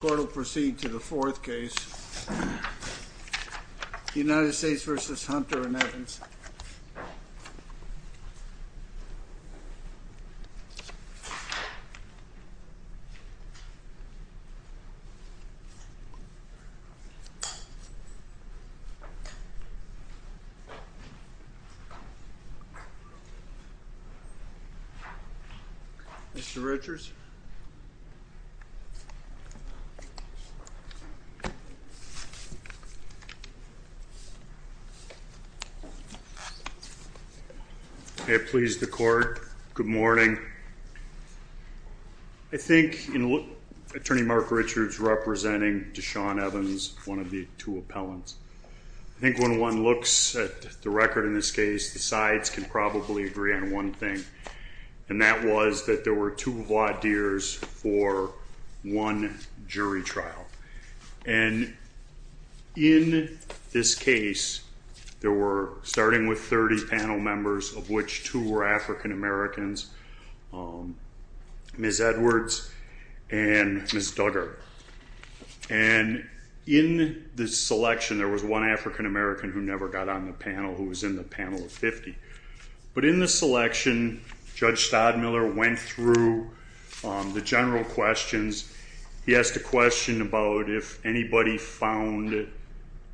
The court will proceed to the fourth case, United States v. Hunter and Evans. Mr. Richards Mr. Richards I please the court. Good morning. I think Attorney Mark Richards representing Deshaun Evans, one of the two appellants. I think when one looks at the record in this case the sides can probably agree on one thing, and that was that there were two voir dires for one jury trial. And in this case there were, starting with 30 panel members, of which two were African Americans, Ms. Edwards and Ms. Duggar. And in the selection there was one African American who never got on the panel who was in the panel of 50. But in the selection, Judge Todd Miller went through the general questions. He asked a question about if anybody found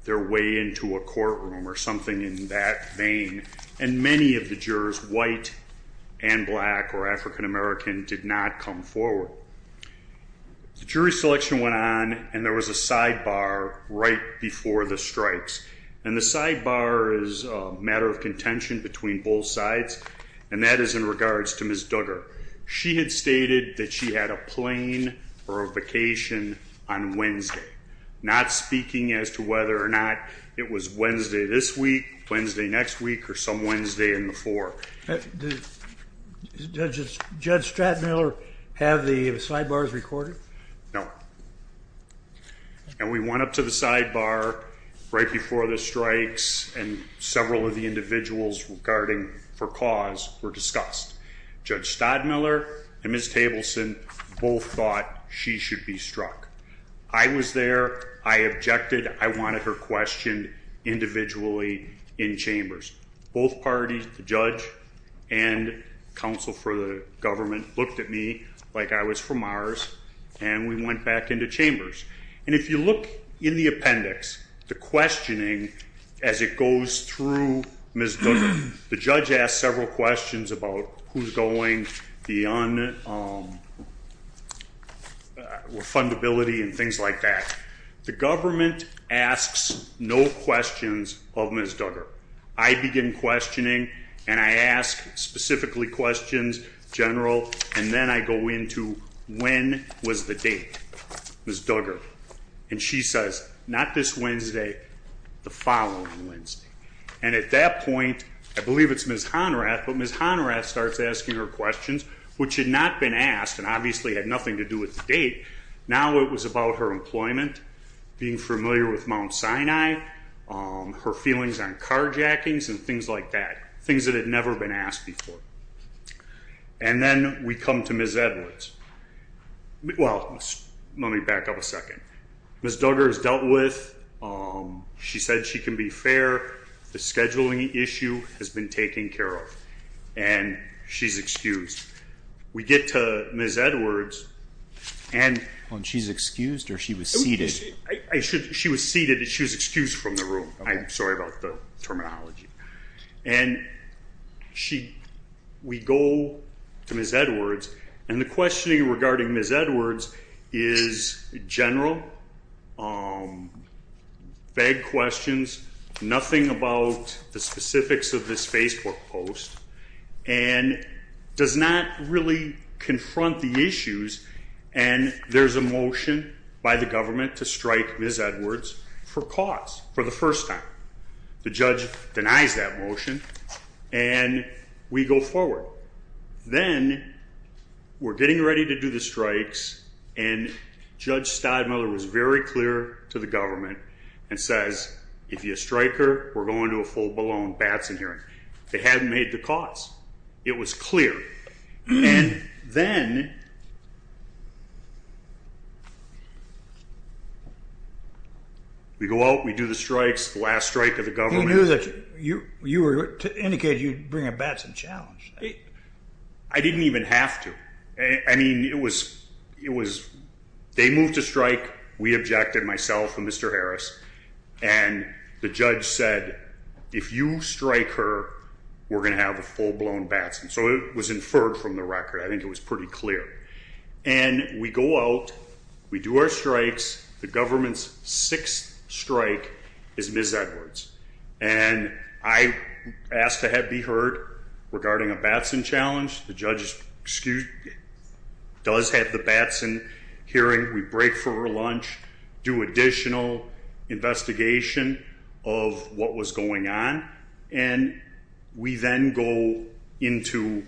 their way into a courtroom or something in that vein. And many of the jurors, white and black or African American, did not come forward. The jury selection went on, and there was a sidebar right before the strikes. And the sidebar is a matter of contention between both sides, and that is in regards to Ms. Duggar. She had stated that she had a plane or a vacation on Wednesday, not speaking as to whether or not it was Wednesday this week, Wednesday next week, or some Wednesday in the fore. Did Judge Stratton Miller have the sidebars recorded? No. And we went up to the sidebar right before the strikes, and several of the individuals regarding for cause were discussed. Judge Todd Miller and Ms. Tableson both thought she should be struck. I was there. I objected. I wanted her questioned individually in chambers. Both parties, the judge and counsel for the government, looked at me like I was from Mars, and we went back into chambers. And if you look in the appendix, the questioning as it goes through Ms. Duggar, the judge asked several questions about who's going, the unfundability and things like that. The government asks no questions of Ms. Duggar. I begin questioning, and I ask specifically questions, general, and then I go into when was the date, Ms. Duggar. And she says, not this Wednesday, the following Wednesday. And at that point, I believe it's Ms. Honrath, but Ms. Honrath starts asking her questions, which had not been asked and obviously had nothing to do with the date. Now it was about her employment, being familiar with Mount Sinai, her feelings on carjackings and things like that, things that had never been asked before. And then we come to Ms. Edwards. Well, let me back up a second. Ms. Duggar is dealt with. She said she can be fair. The scheduling issue has been taken care of, and she's excused. We get to Ms. Edwards. And she's excused or she was seated? She was seated. She was excused from the room. I'm sorry about the terminology. And we go to Ms. Edwards, and the questioning regarding Ms. Edwards is general, vague questions, nothing about the specifics of this Facebook post, and does not really confront the issues. And there's a motion by the government to strike Ms. Edwards for cause, for the first time. The judge denies that motion, and we go forward. Then we're getting ready to do the strikes, and Judge Stidemiller was very clear to the government and says, if you strike her, we're going to a full-blown Batson hearing. They hadn't made the cause. It was clear. And then we go out, we do the strikes, the last strike of the government. He knew that you were indicating you'd bring a Batson challenge. I didn't even have to. They moved to strike. We objected, myself and Mr. Harris. And the judge said, if you strike her, we're going to have a full-blown Batson. So it was inferred from the record. I think it was pretty clear. And we go out, we do our strikes. The government's sixth strike is Ms. Edwards. And I asked to be heard regarding a Batson challenge. The judge does have the Batson hearing. We break for lunch, do additional investigation of what was going on, and we then go into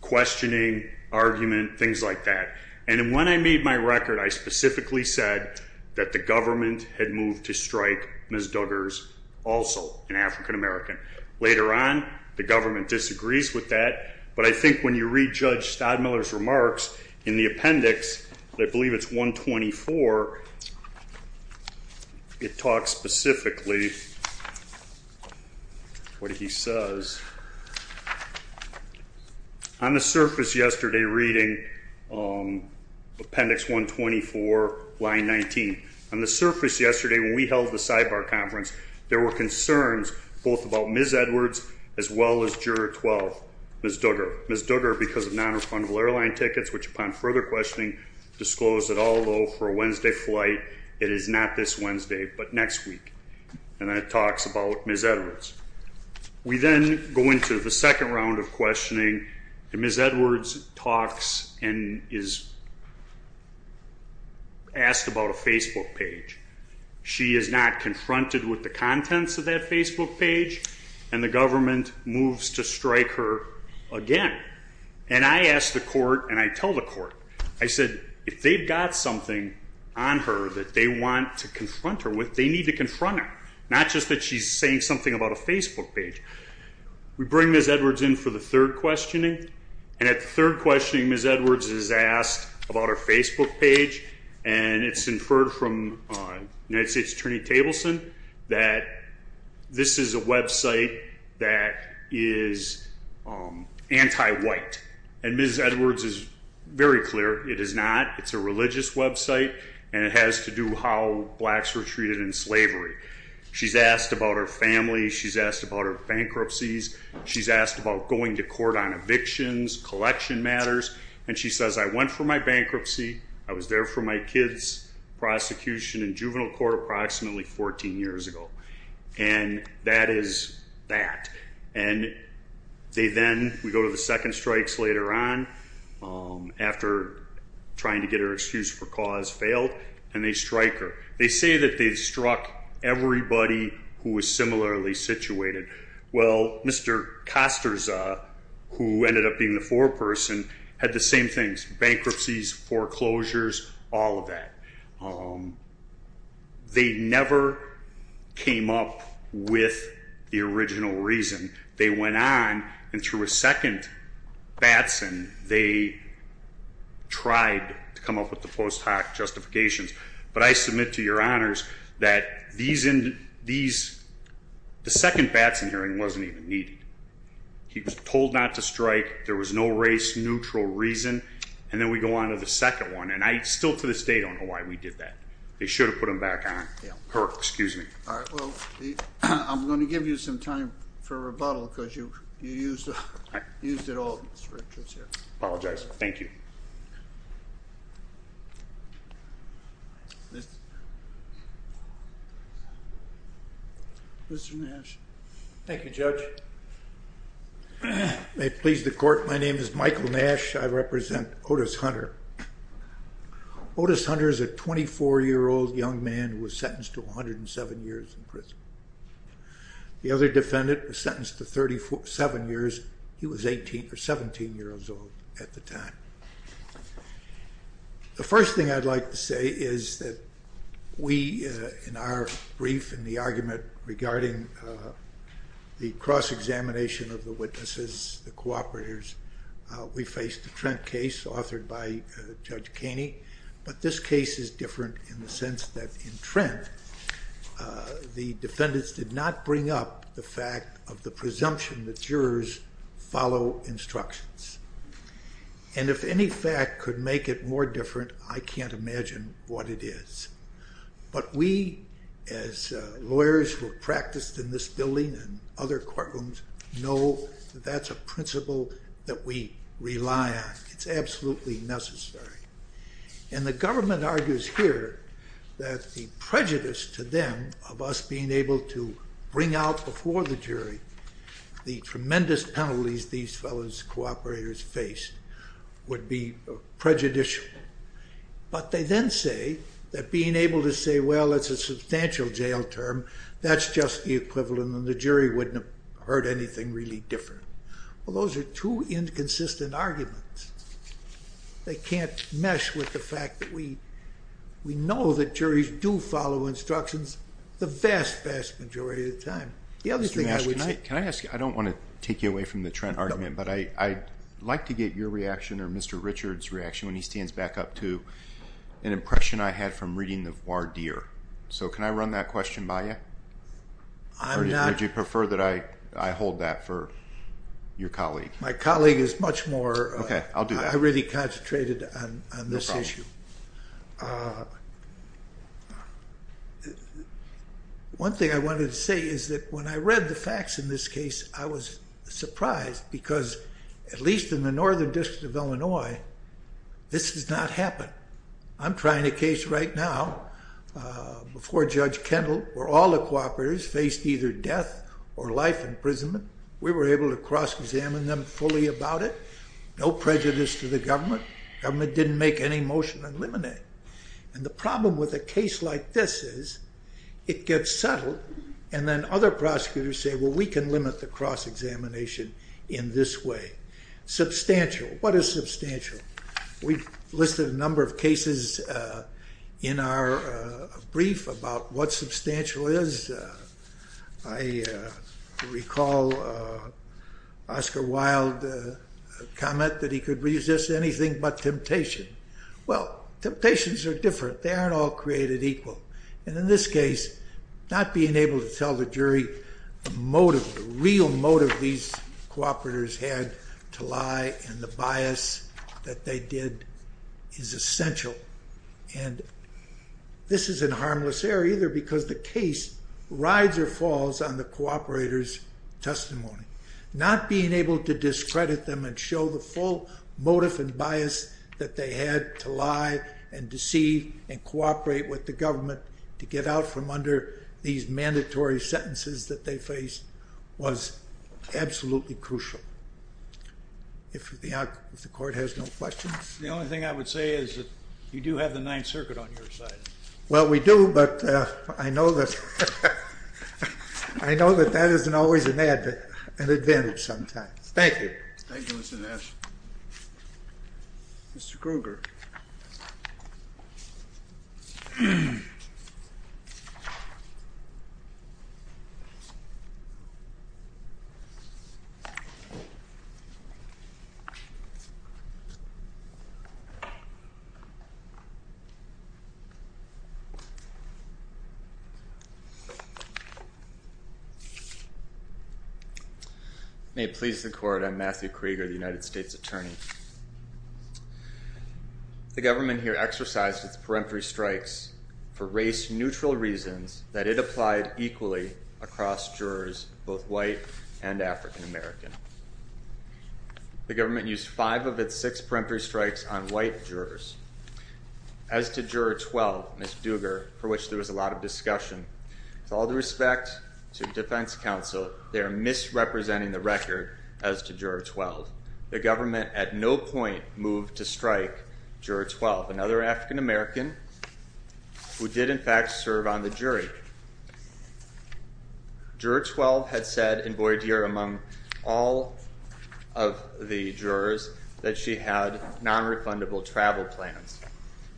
questioning, argument, things like that. And when I made my record, I specifically said that the government had moved to strike Ms. Duggars also, an African-American. Later on, the government disagrees with that. But I think when you read Judge Stadmiller's remarks in the appendix, I believe it's 124, it talks specifically what he says. On the surface yesterday, reading appendix 124, line 19, on the surface yesterday when we held the sidebar conference, there were concerns both about Ms. Edwards as well as juror 12, Ms. Duggar. Ms. Duggar, because of non-refundable airline tickets, which upon further questioning disclosed that although for a Wednesday flight, it is not this Wednesday, but next week. And then it talks about Ms. Edwards. We then go into the second round of questioning, and Ms. Edwards talks and is asked about a Facebook page. She is not confronted with the contents of that Facebook page, and the government moves to strike her again. And I asked the court, and I told the court, I said, if they've got something on her that they want to confront her with, they need to confront her, not just that she's saying something about a Facebook page. We bring Ms. Edwards in for the third questioning, and at the third questioning, Ms. Edwards is asked about her Facebook page, and it's inferred from United States Attorney Tableson that this is a website that is anti-white, and Ms. Edwards is very clear it is not. It's a religious website, and it has to do how blacks were treated in slavery. She's asked about her family. She's asked about her bankruptcies. She's asked about going to court on evictions, collection matters, and she says, I went for my bankruptcy. I was there for my kids' prosecution in juvenile court approximately 14 years ago. And that is that. And they then, we go to the second strikes later on, after trying to get her excused for cause failed, and they strike her. They say that they've struck everybody who was similarly situated. Well, Mr. Costorza, who ended up being the foreperson, had the same things, bankruptcies, foreclosures, all of that. They never came up with the original reason. They went on, and through a second Batson, they tried to come up with the post hoc justifications. But I submit to your honors that the second Batson hearing wasn't even needed. He was told not to strike. There was no race neutral reason. And then we go on to the second one. And I still to this day don't know why we did that. They should have put him back on. Her, excuse me. All right. Well, I'm going to give you some time for rebuttal because you used it all, Mr. Richards. I apologize. Thank you. Mr. Nash. Thank you, Judge. May it please the court. My name is Michael Nash. I represent Otis Hunter. Otis Hunter is a 24-year-old young man who was sentenced to 107 years in prison. The other defendant was sentenced to 37 years. He was 18 or 17 years old at the time. The first thing I'd like to say is that we, in our brief, in the argument regarding the cross-examination of the witnesses, the cooperators, we faced a Trent case authored by Judge Kaney. But this case is different in the sense that in Trent, the defendants did not bring up the fact of the presumption that jurors follow instructions. And if any fact could make it more different, I can't imagine what it is. But we, as lawyers who have practiced in this building and other courtrooms, know that that's a principle that we rely on. It's absolutely necessary. And the government argues here that the prejudice to them of us being able to bring out before the jury the tremendous penalties these fellows, cooperators, faced would be prejudicial. But they then say that being able to say, well, it's a substantial jail term, that's just the equivalent and the jury wouldn't have heard anything really different. Well, those are two inconsistent arguments. They can't mesh with the fact that we know that juries do follow instructions the vast, vast majority of the time. The other thing I would say... Can I ask you, I don't want to take you away from the Trent argument, but I'd like to get your reaction or Mr. Richard's reaction when he stands back up to an impression I had from reading the voir dire. So can I run that question by you? Or would you prefer that I hold that for your colleague? My colleague is much more... Okay, I'll do that. I really concentrated on this issue. No problem. One thing I wanted to say is that when I read the facts in this case, I was surprised because at least in the Northern District of Illinois, this has not happened. I'm trying a case right now before Judge Kendall, where all the cooperators faced either death or life imprisonment. We were able to cross-examine them fully about it. No prejudice to the government. Government didn't make any motion to eliminate. And the problem with a case like this is it gets settled and then other prosecutors say, well, we can limit the cross-examination in this way. Substantial. What is substantial? We've listed a number of cases in our brief about what substantial is. I recall Oscar Wilde comment that he could resist anything but temptation. Well, temptations are different. They aren't all created equal. And in this case, not being able to tell the jury the motive, the real motive these cooperators had to lie and the bias that they did is essential. And this isn't harmless error either because the case rides or falls on the cooperator's testimony. Not being able to discredit them and show the full motive and bias that they had to lie and deceive and cooperate with the government to get out from under these mandatory sentences that they faced was absolutely crucial, if the court has no questions. The only thing I would say is that you do have the Ninth Circuit on your side. Well, we do, but I know that that isn't always an ad. An advantage sometimes. Thank you. Thank you, Mr. Nash. Mr. Kruger. May it please the court. I'm Matthew Kruger, the United States Attorney. The government here exercised its peremptory strikes for race-neutral reasons that it applied equally across jurors, both white and African American. The government used five of its six peremptory strikes on white jurors. As to Juror 12, Ms. Dugger, for which there was a lot of discussion, with all due respect to defense counsel, they are misrepresenting the record as to Juror 12. The government at no point moved to strike Juror 12, another African American, who did, in fact, serve on the jury. Juror 12 had said in voir dire among all of the jurors that she had nonrefundable travel plans.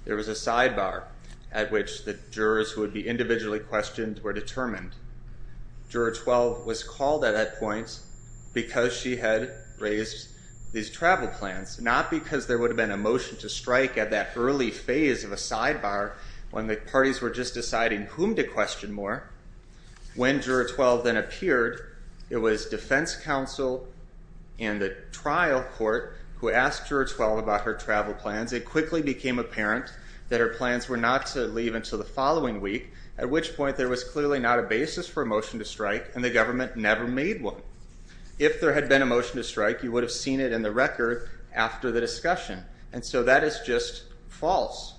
There was a sidebar at which the jurors who would be individually questioned were determined. Juror 12 was called at that point because she had raised these travel plans, not because there would have been a motion to strike at that early phase of a sidebar when the parties were just deciding whom to question more. When Juror 12 then appeared, it was defense counsel and the trial court who asked Juror 12 about her travel plans. It quickly became apparent that her plans were not to leave until the following week, at which point there was clearly not a basis for a motion to strike, and the government never made one. If there had been a motion to strike, you would have seen it in the record after the discussion. And so that is just false,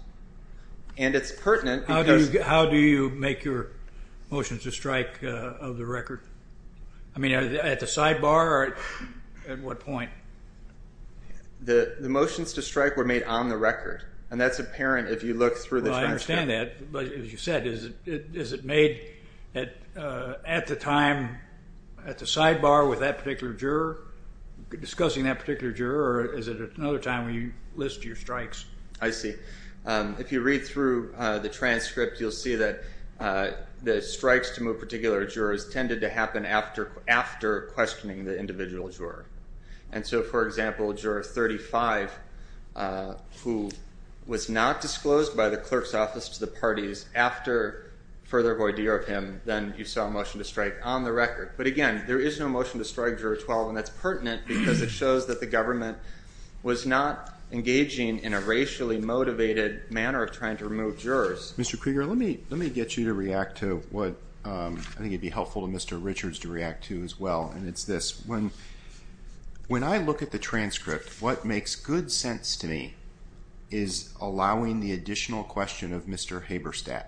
and it's pertinent because How do you make your motions to strike of the record? I mean, at the sidebar or at what point? The motions to strike were made on the record, and that's apparent if you look through the transcript. Well, I understand that, but as you said, is it made at the time, at the sidebar with that particular juror, discussing that particular juror, or is it at another time where you list your strikes? I see. If you read through the transcript, you'll see that the strikes to move particular jurors tended to happen after questioning the individual juror. And so, for example, Juror 35, who was not disclosed by the clerk's office to the parties, after further voir dire of him, then you saw a motion to strike on the record. But, again, there is no motion to strike, Juror 12, and that's pertinent because it shows that the government was not engaging in a racially motivated manner of trying to remove jurors. Mr. Krieger, let me get you to react to what I think would be helpful to Mr. Richards to react to as well, and it's this. When I look at the transcript, what makes good sense to me is allowing the additional question of Mr. Haberstadt,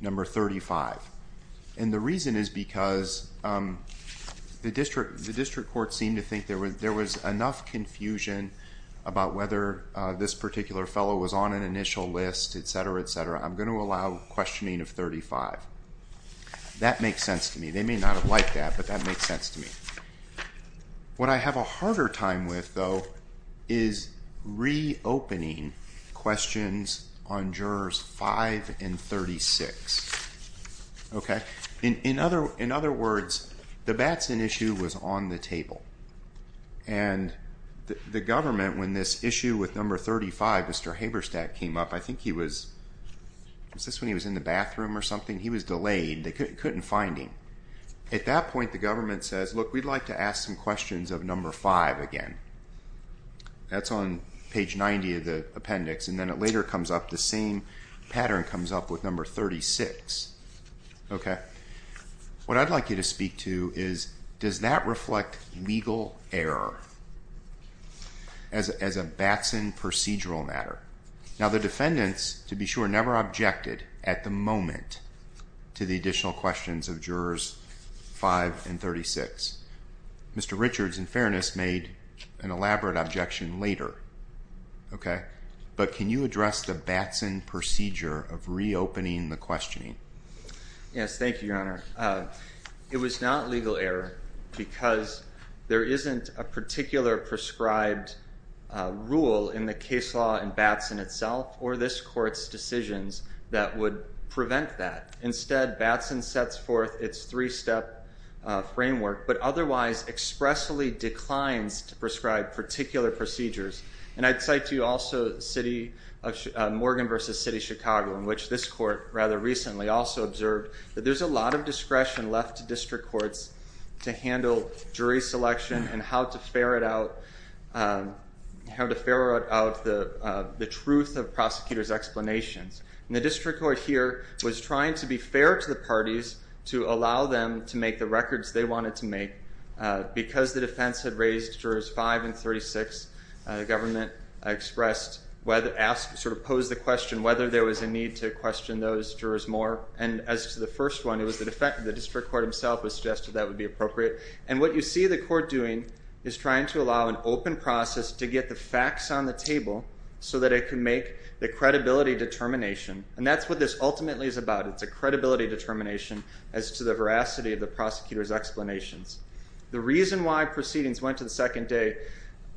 Number 35. And the reason is because the district court seemed to think there was enough confusion about whether this particular fellow was on an initial list, et cetera, et cetera. I'm going to allow questioning of 35. That makes sense to me. They may not have liked that, but that makes sense to me. What I have a harder time with, though, is reopening questions on Jurors 5 and 36. In other words, the Batson issue was on the table, and the government, when this issue with Number 35, Mr. Haberstadt, came up, I think he was in the bathroom or something? He was delayed. They couldn't find him. At that point, the government says, Look, we'd like to ask some questions of Number 5 again. That's on page 90 of the appendix, and then it later comes up, the same pattern comes up with Number 36. What I'd like you to speak to is, does that reflect legal error as a Batson procedural matter? Now, the defendants, to be sure, never objected at the moment to the additional questions of Jurors 5 and 36. Mr. Richards, in fairness, made an elaborate objection later. But can you address the Batson procedure of reopening the questioning? Yes, thank you, Your Honor. It was not legal error because there isn't a particular prescribed rule in the case law in Batson itself or this court's decisions that would prevent that. Instead, Batson sets forth its three-step framework, but otherwise expressly declines to prescribe particular procedures. I'd cite to you also Morgan v. City of Chicago, in which this court rather recently also observed that there's a lot of discretion left to district courts to handle jury selection and how to ferret out the truth of prosecutors' explanations. The district court here was trying to be fair to the parties to allow them to make the records they wanted to make. Because the defense had raised Jurors 5 and 36, the government expressed, sort of posed the question whether there was a need to question those jurors more. And as to the first one, it was the district court himself who suggested that would be appropriate. And what you see the court doing is trying to allow an open process to get the facts on the table so that it can make the credibility determination. And that's what this ultimately is about. It's a credibility determination as to the veracity of the prosecutors' explanations. The reason why proceedings went to the second day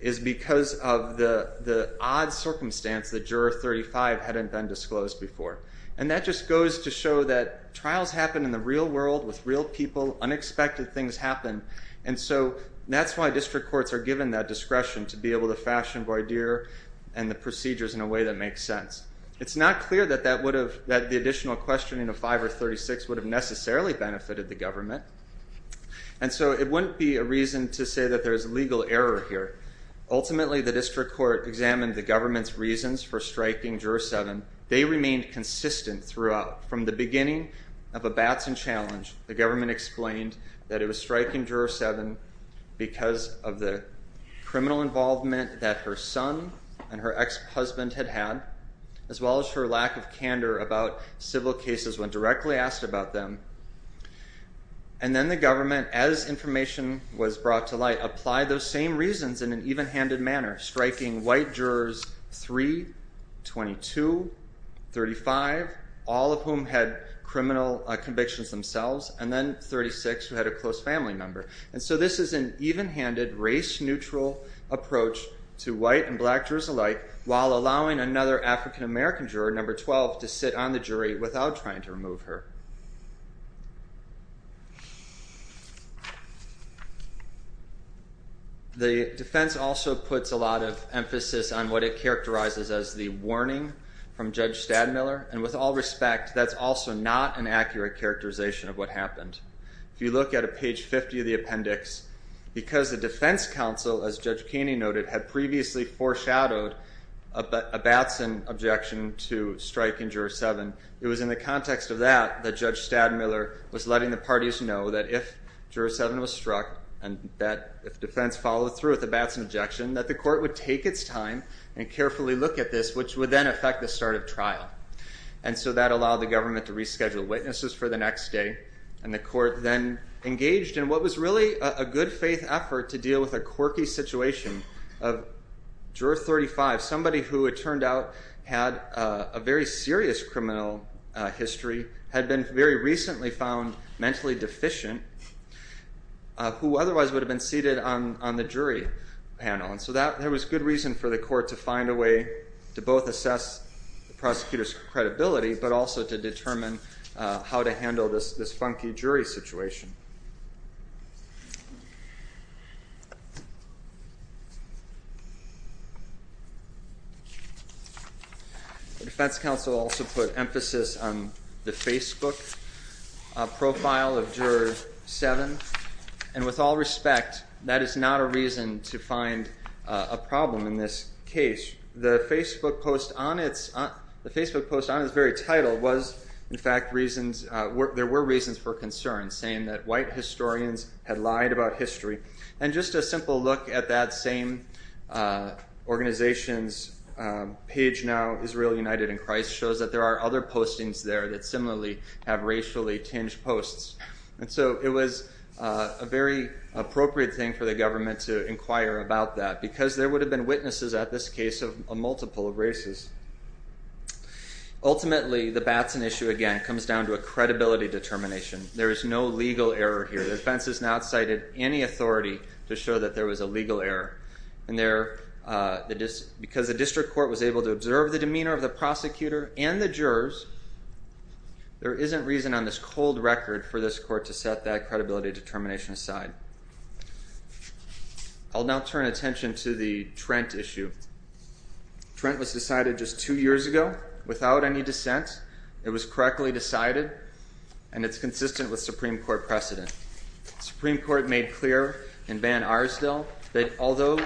is because of the odd circumstance that Juror 35 hadn't been disclosed before. And that just goes to show that trials happen in the real world with real people. Unexpected things happen. And so that's why district courts are given that discretion to be able to fashion voir dire and the procedures in a way that makes sense. It's not clear that the additional questioning of 5 or 36 would have necessarily benefited the government. And so it wouldn't be a reason to say that there's legal error here. Ultimately, the district court examined the government's reasons for striking Juror 7. They remained consistent throughout. From the beginning of a Batson challenge, the government explained that it was striking Juror 7 because of the criminal involvement that her son and her ex-husband had had as well as her lack of candor about civil cases when directly asked about them. And then the government, as information was brought to light, applied those same reasons in an even-handed manner, striking white Jurors 3, 22, 35, all of whom had criminal convictions themselves, and then 36 who had a close family member. And so this is an even-handed, race-neutral approach to white and black jurors alike while allowing another African-American juror, Number 12, to sit on the jury without trying to remove her. The defense also puts a lot of emphasis on what it characterizes as the warning from Judge Stadmiller, and with all respect, that's also not an accurate characterization of what happened. If you look at page 50 of the appendix, because the defense counsel, as Judge Keeney noted, had previously foreshadowed a Batson objection to strike Juror 7, it was in the context of that that Judge Stadmiller was letting the parties know that if Juror 7 was struck, and that if defense followed through with a Batson objection, that the court would take its time and carefully look at this, which would then affect the start of trial. And so that allowed the government to reschedule witnesses for the next day, and the court then engaged in what was really a good-faith effort to deal with a quirky situation of Juror 35, somebody who it turned out had a very serious criminal history, had been very recently found mentally deficient, who otherwise would have been seated on the jury panel. And so there was good reason for the court to find a way to both assess the prosecutor's credibility, but also to determine how to handle this funky jury situation. The defense counsel also put emphasis on the Facebook profile of Juror 7, and with all respect, that is not a reason to find a problem in this case. The Facebook post on its very title was, in fact, there were reasons for concern, saying that white historians had lied about history. And just a simple look at that same organization's page now, Israel United in Christ, shows that there are other postings there that similarly have racially-tinged posts. And so it was a very appropriate thing for the government to inquire about that, because there would have been witnesses at this case of a multiple of races. Ultimately, the Batson issue again comes down to a credibility determination. There is no legal error here. The defense has not cited any authority to show that there was a legal error. And because the district court was able to observe the demeanor of the prosecutor and the jurors, there isn't reason on this cold record for this court to set that credibility determination aside. I'll now turn attention to the Trent issue. Trent was decided just two years ago without any dissent. It was correctly decided, and it's consistent with Supreme Court precedent. The Supreme Court made clear in Van Arsdale that although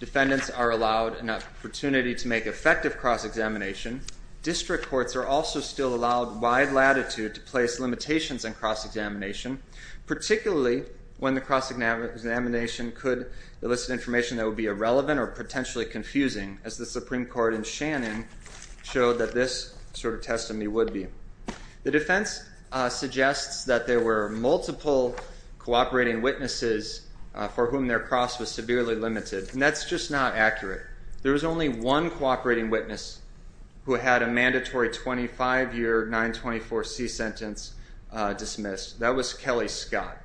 defendants are allowed an opportunity to make effective cross-examination, district courts are also still allowed wide latitude to place limitations on cross-examination, particularly when the cross-examination could elicit information that would be irrelevant or potentially confusing, as the Supreme Court in Shannon showed that this sort of testimony would be. The defense suggests that there were multiple cooperating witnesses for whom their cross was severely limited, and that's just not accurate. There was only one cooperating witness who had a mandatory 25-year 924C sentence dismissed. That was Kelly Scott.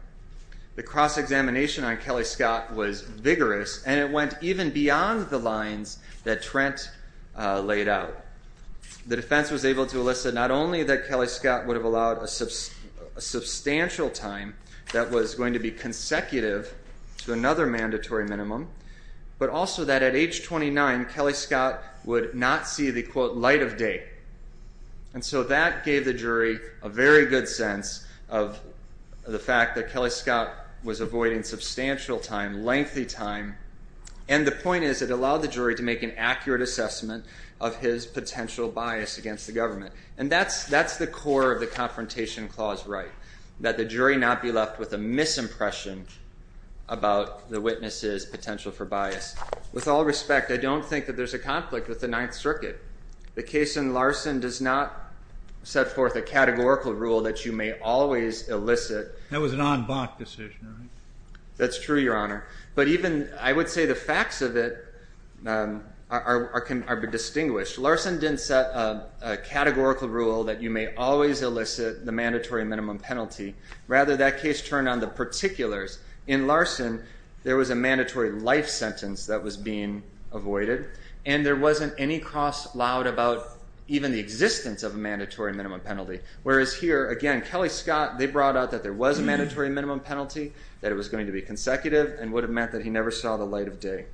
The cross-examination on Kelly Scott was vigorous, and it went even beyond the lines that Trent laid out. The defense was able to elicit not only that Kelly Scott would have allowed a substantial time that was going to be consecutive to another mandatory minimum, but also that at age 29, Kelly Scott would not see the, quote, light of day. And so that gave the jury a very good sense of the fact that Kelly Scott was avoiding substantial time, lengthy time, and the point is it allowed the jury to make an accurate assessment of his potential bias against the government. And that's the core of the Confrontation Clause right, that the jury not be left with a misimpression about the witness's potential for bias. With all respect, I don't think that there's a conflict with the Ninth Circuit. The case in Larson does not set forth a categorical rule that you may always elicit. That was an en banc decision, right? That's true, Your Honor. But even I would say the facts of it are distinguished. Larson didn't set a categorical rule that you may always elicit the mandatory minimum penalty. Rather, that case turned on the particulars. In Larson, there was a mandatory life sentence that was being avoided, and there wasn't any cross allowed about even the existence of a mandatory minimum penalty. Whereas here, again, Kelly Scott, they brought out that there was a mandatory minimum penalty, that it was going to be consecutive, and would have meant that he never saw the light of day.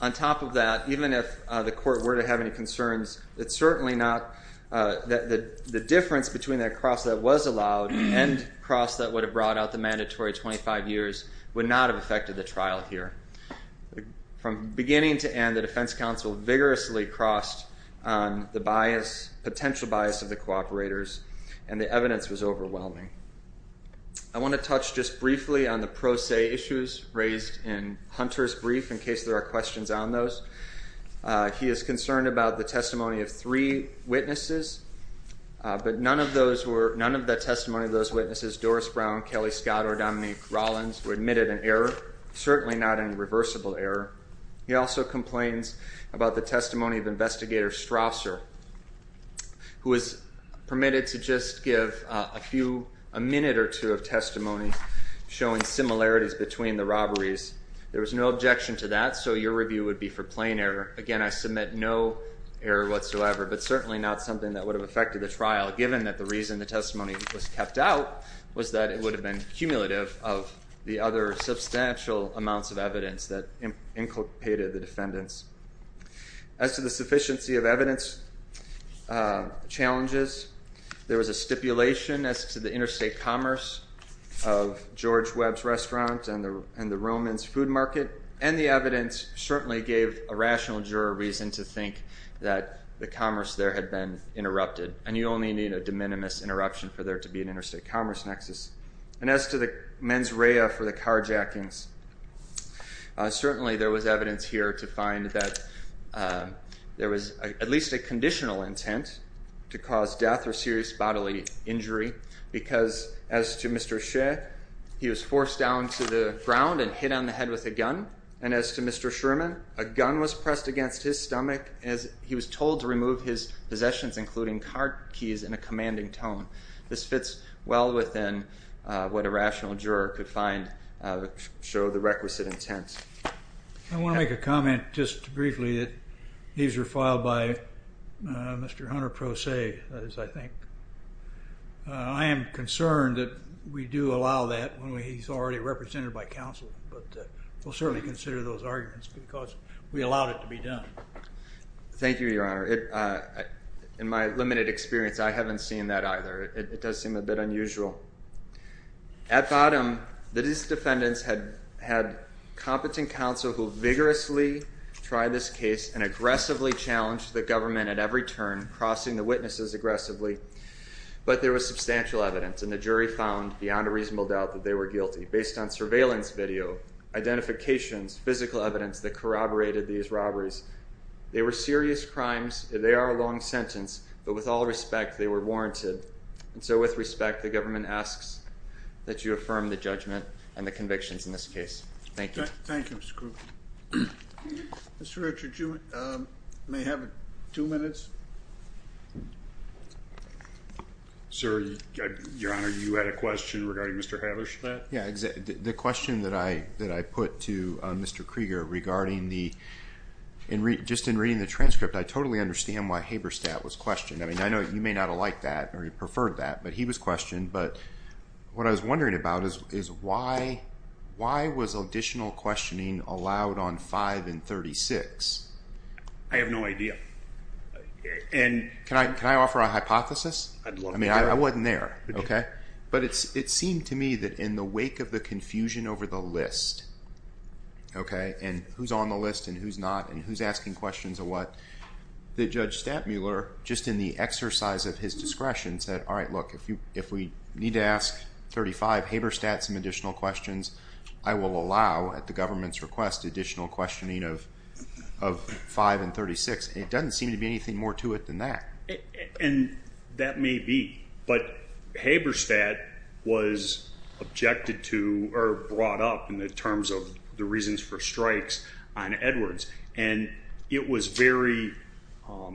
On top of that, even if the court were to have any concerns, it's certainly not that the difference between that cross that was allowed and the cross that would have brought out the mandatory 25 years would not have affected the trial here. From beginning to end, the defense counsel vigorously crossed on the potential bias of the cooperators, and the evidence was overwhelming. I want to touch just briefly on the pro se issues raised in Hunter's brief, in case there are questions on those. He is concerned about the testimony of three witnesses, but none of the testimony of those witnesses, Doris Brown, Kelly Scott, or Dominique Rollins, were admitted in error, certainly not in reversible error. He also complains about the testimony of Investigator Strasser, who was permitted to just give a minute or two of testimony showing similarities between the robberies. There was no objection to that, so your review would be for plain error. Again, I submit no error whatsoever, but certainly not something that would have affected the trial, given that the reason the testimony was kept out was that it would have been cumulative of the other substantial amounts of evidence that inculcated the defendants. As to the sufficiency of evidence challenges, there was a stipulation as to the interstate commerce of George Webb's restaurant and the Romans food market, and the evidence certainly gave a rational juror reason to think that the commerce there had been interrupted, and you only need a de minimis interruption for there to be an interstate commerce nexus. And as to the mens rea for the carjackings, certainly there was evidence here to find that there was at least a conditional intent to cause death or serious bodily injury, because as to Mr. Shea, he was forced down to the ground and hit on the head with a gun, and as to Mr. Sherman, a gun was pressed against his stomach as he was told to remove his possessions, including car keys, in a commanding tone. This fits well within what a rational juror could find to show the requisite intent. I want to make a comment just briefly that these were filed by Mr. Hunter Proce, I think. I am concerned that we do allow that when he's already represented by counsel, but we'll certainly consider those arguments because we allowed it to be done. Thank you, Your Honor. In my limited experience, I haven't seen that either. It does seem a bit unusual. At bottom, the defendants had competent counsel who vigorously tried this case and aggressively challenged the government at every turn, crossing the witnesses aggressively, but there was substantial evidence, and the jury found beyond a reasonable doubt that they were guilty. Based on surveillance video, identifications, physical evidence that corroborated these robberies, they were serious crimes. They are a long sentence, but with all respect, they were warranted. And so with respect, the government asks that you affirm the judgment and the convictions in this case. Thank you. Thank you, Mr. Kruger. Mr. Richards, you may have two minutes. Sir, Your Honor, you had a question regarding Mr. Haberstadt? Yeah, the question that I put to Mr. Krieger regarding the... Just in reading the transcript, I totally understand why Haberstadt was questioned. I mean, I know you may not have liked that or preferred that, but he was questioned. But what I was wondering about is why was additional questioning allowed on 5 and 36? I have no idea. And... Can I offer a hypothesis? I mean, I wasn't there, okay? But it seemed to me that in the wake of the confusion over the list, okay, and who's on the list and who's not and who's asking questions and what, that Judge Stadtmuller, just in the exercise of his discretion, said, all right, look, if we need to ask 35 Haberstadt some additional questions, I will allow, at the government's request, additional questioning of 5 and 36. It doesn't seem to be anything more to it than that. And that may be. But Haberstadt was objected to or brought up in the terms of the reasons for strikes on Edwards. And it was very...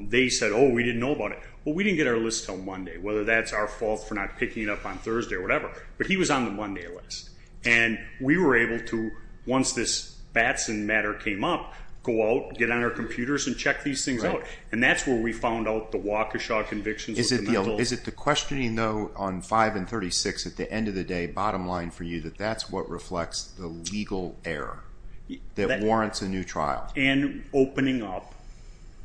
They said, oh, we didn't know about it. Well, we didn't get our list till Monday, whether that's our fault for not picking it up on Thursday or whatever, but he was on the Monday list. And we were able to, once this Batson matter came up, go out, get on our computers, and check these things out. And that's where we found out the Waukesha convictions. Is it the questioning, though, on 5 and 36, at the end of the day, bottom line for you, that that's what reflects the legal error that warrants a new trial? And opening up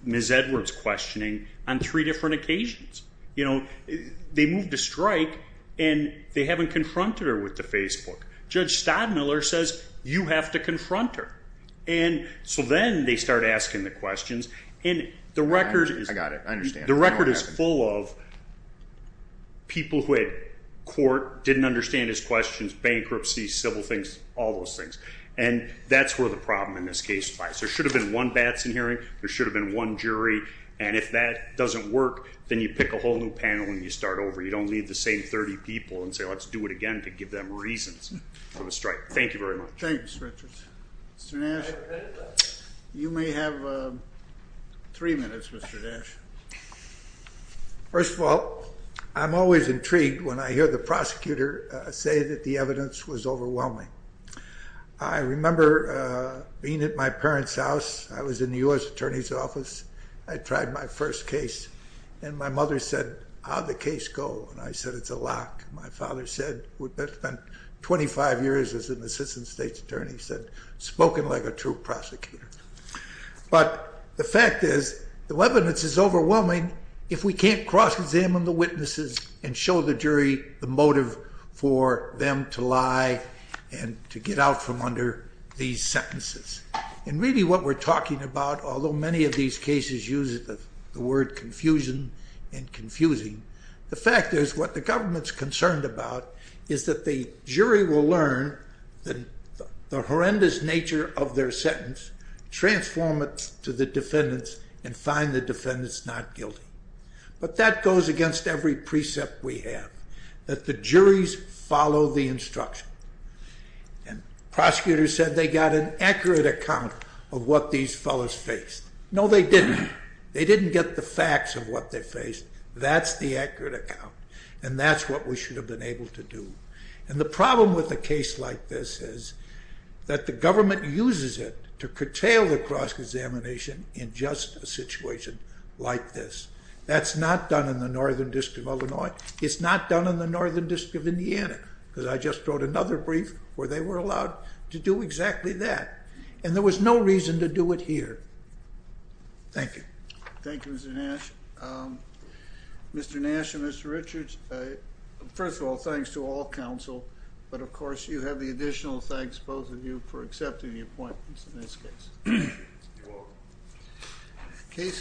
Ms. Edwards' questioning on three different occasions. You know, they moved a strike, and they haven't confronted her with the Facebook. Judge Stodmiller says, you have to confront her. And so then they start asking the questions, and the record is... I got it, I understand. The record is full of people who at court didn't understand his questions, bankruptcy, civil things, all those things. And that's where the problem in this case lies. There should have been one Batson hearing, there should have been one jury, and if that doesn't work, then you pick a whole new panel and you start over. You don't leave the same 30 people and say, let's do it again to give them reasons for the strike. Thank you very much. Thanks, Richard. Mr. Nash, you may have three minutes, Mr. Nash. First of all, I'm always intrigued when I hear the prosecutor say that the evidence was overwhelming. I remember being at my parents' house. I was in the U.S. Attorney's Office. I tried my first case, and my mother said, how'd the case go? And I said, it's a lock. My father said, we've spent 25 years as an assistant state's attorney, said, spoken like a true prosecutor. But the fact is, the evidence is overwhelming if we can't cross-examine the witnesses and show the jury the motive for them to lie and to get out from under these sentences. And really what we're talking about, although many of these cases use the word confusion and confusing, the fact is, what the government's concerned about is that the jury will learn the horrendous nature of their sentence, transform it to the defendant's, and find the defendant's not guilty. But that goes against every precept we have, that the juries follow the instruction. And prosecutors said they got an accurate account of what these fellows faced. No, they didn't. They didn't get the facts of what they faced. That's the accurate account, and that's what we should have been able to do. And the problem with a case like this is that the government uses it to curtail the cross-examination in just a situation like this. That's not done in the Northern District of Illinois. It's not done in the Northern District of Indiana, because I just wrote another brief where they were allowed to do exactly that. And there was no reason to do it here. Thank you. Thank you, Mr. Nash. Mr. Nash and Mr. Richards, first of all, thanks to all counsel, but of course you have the additional thanks, both of you, for accepting the appointments in this case. You're welcome.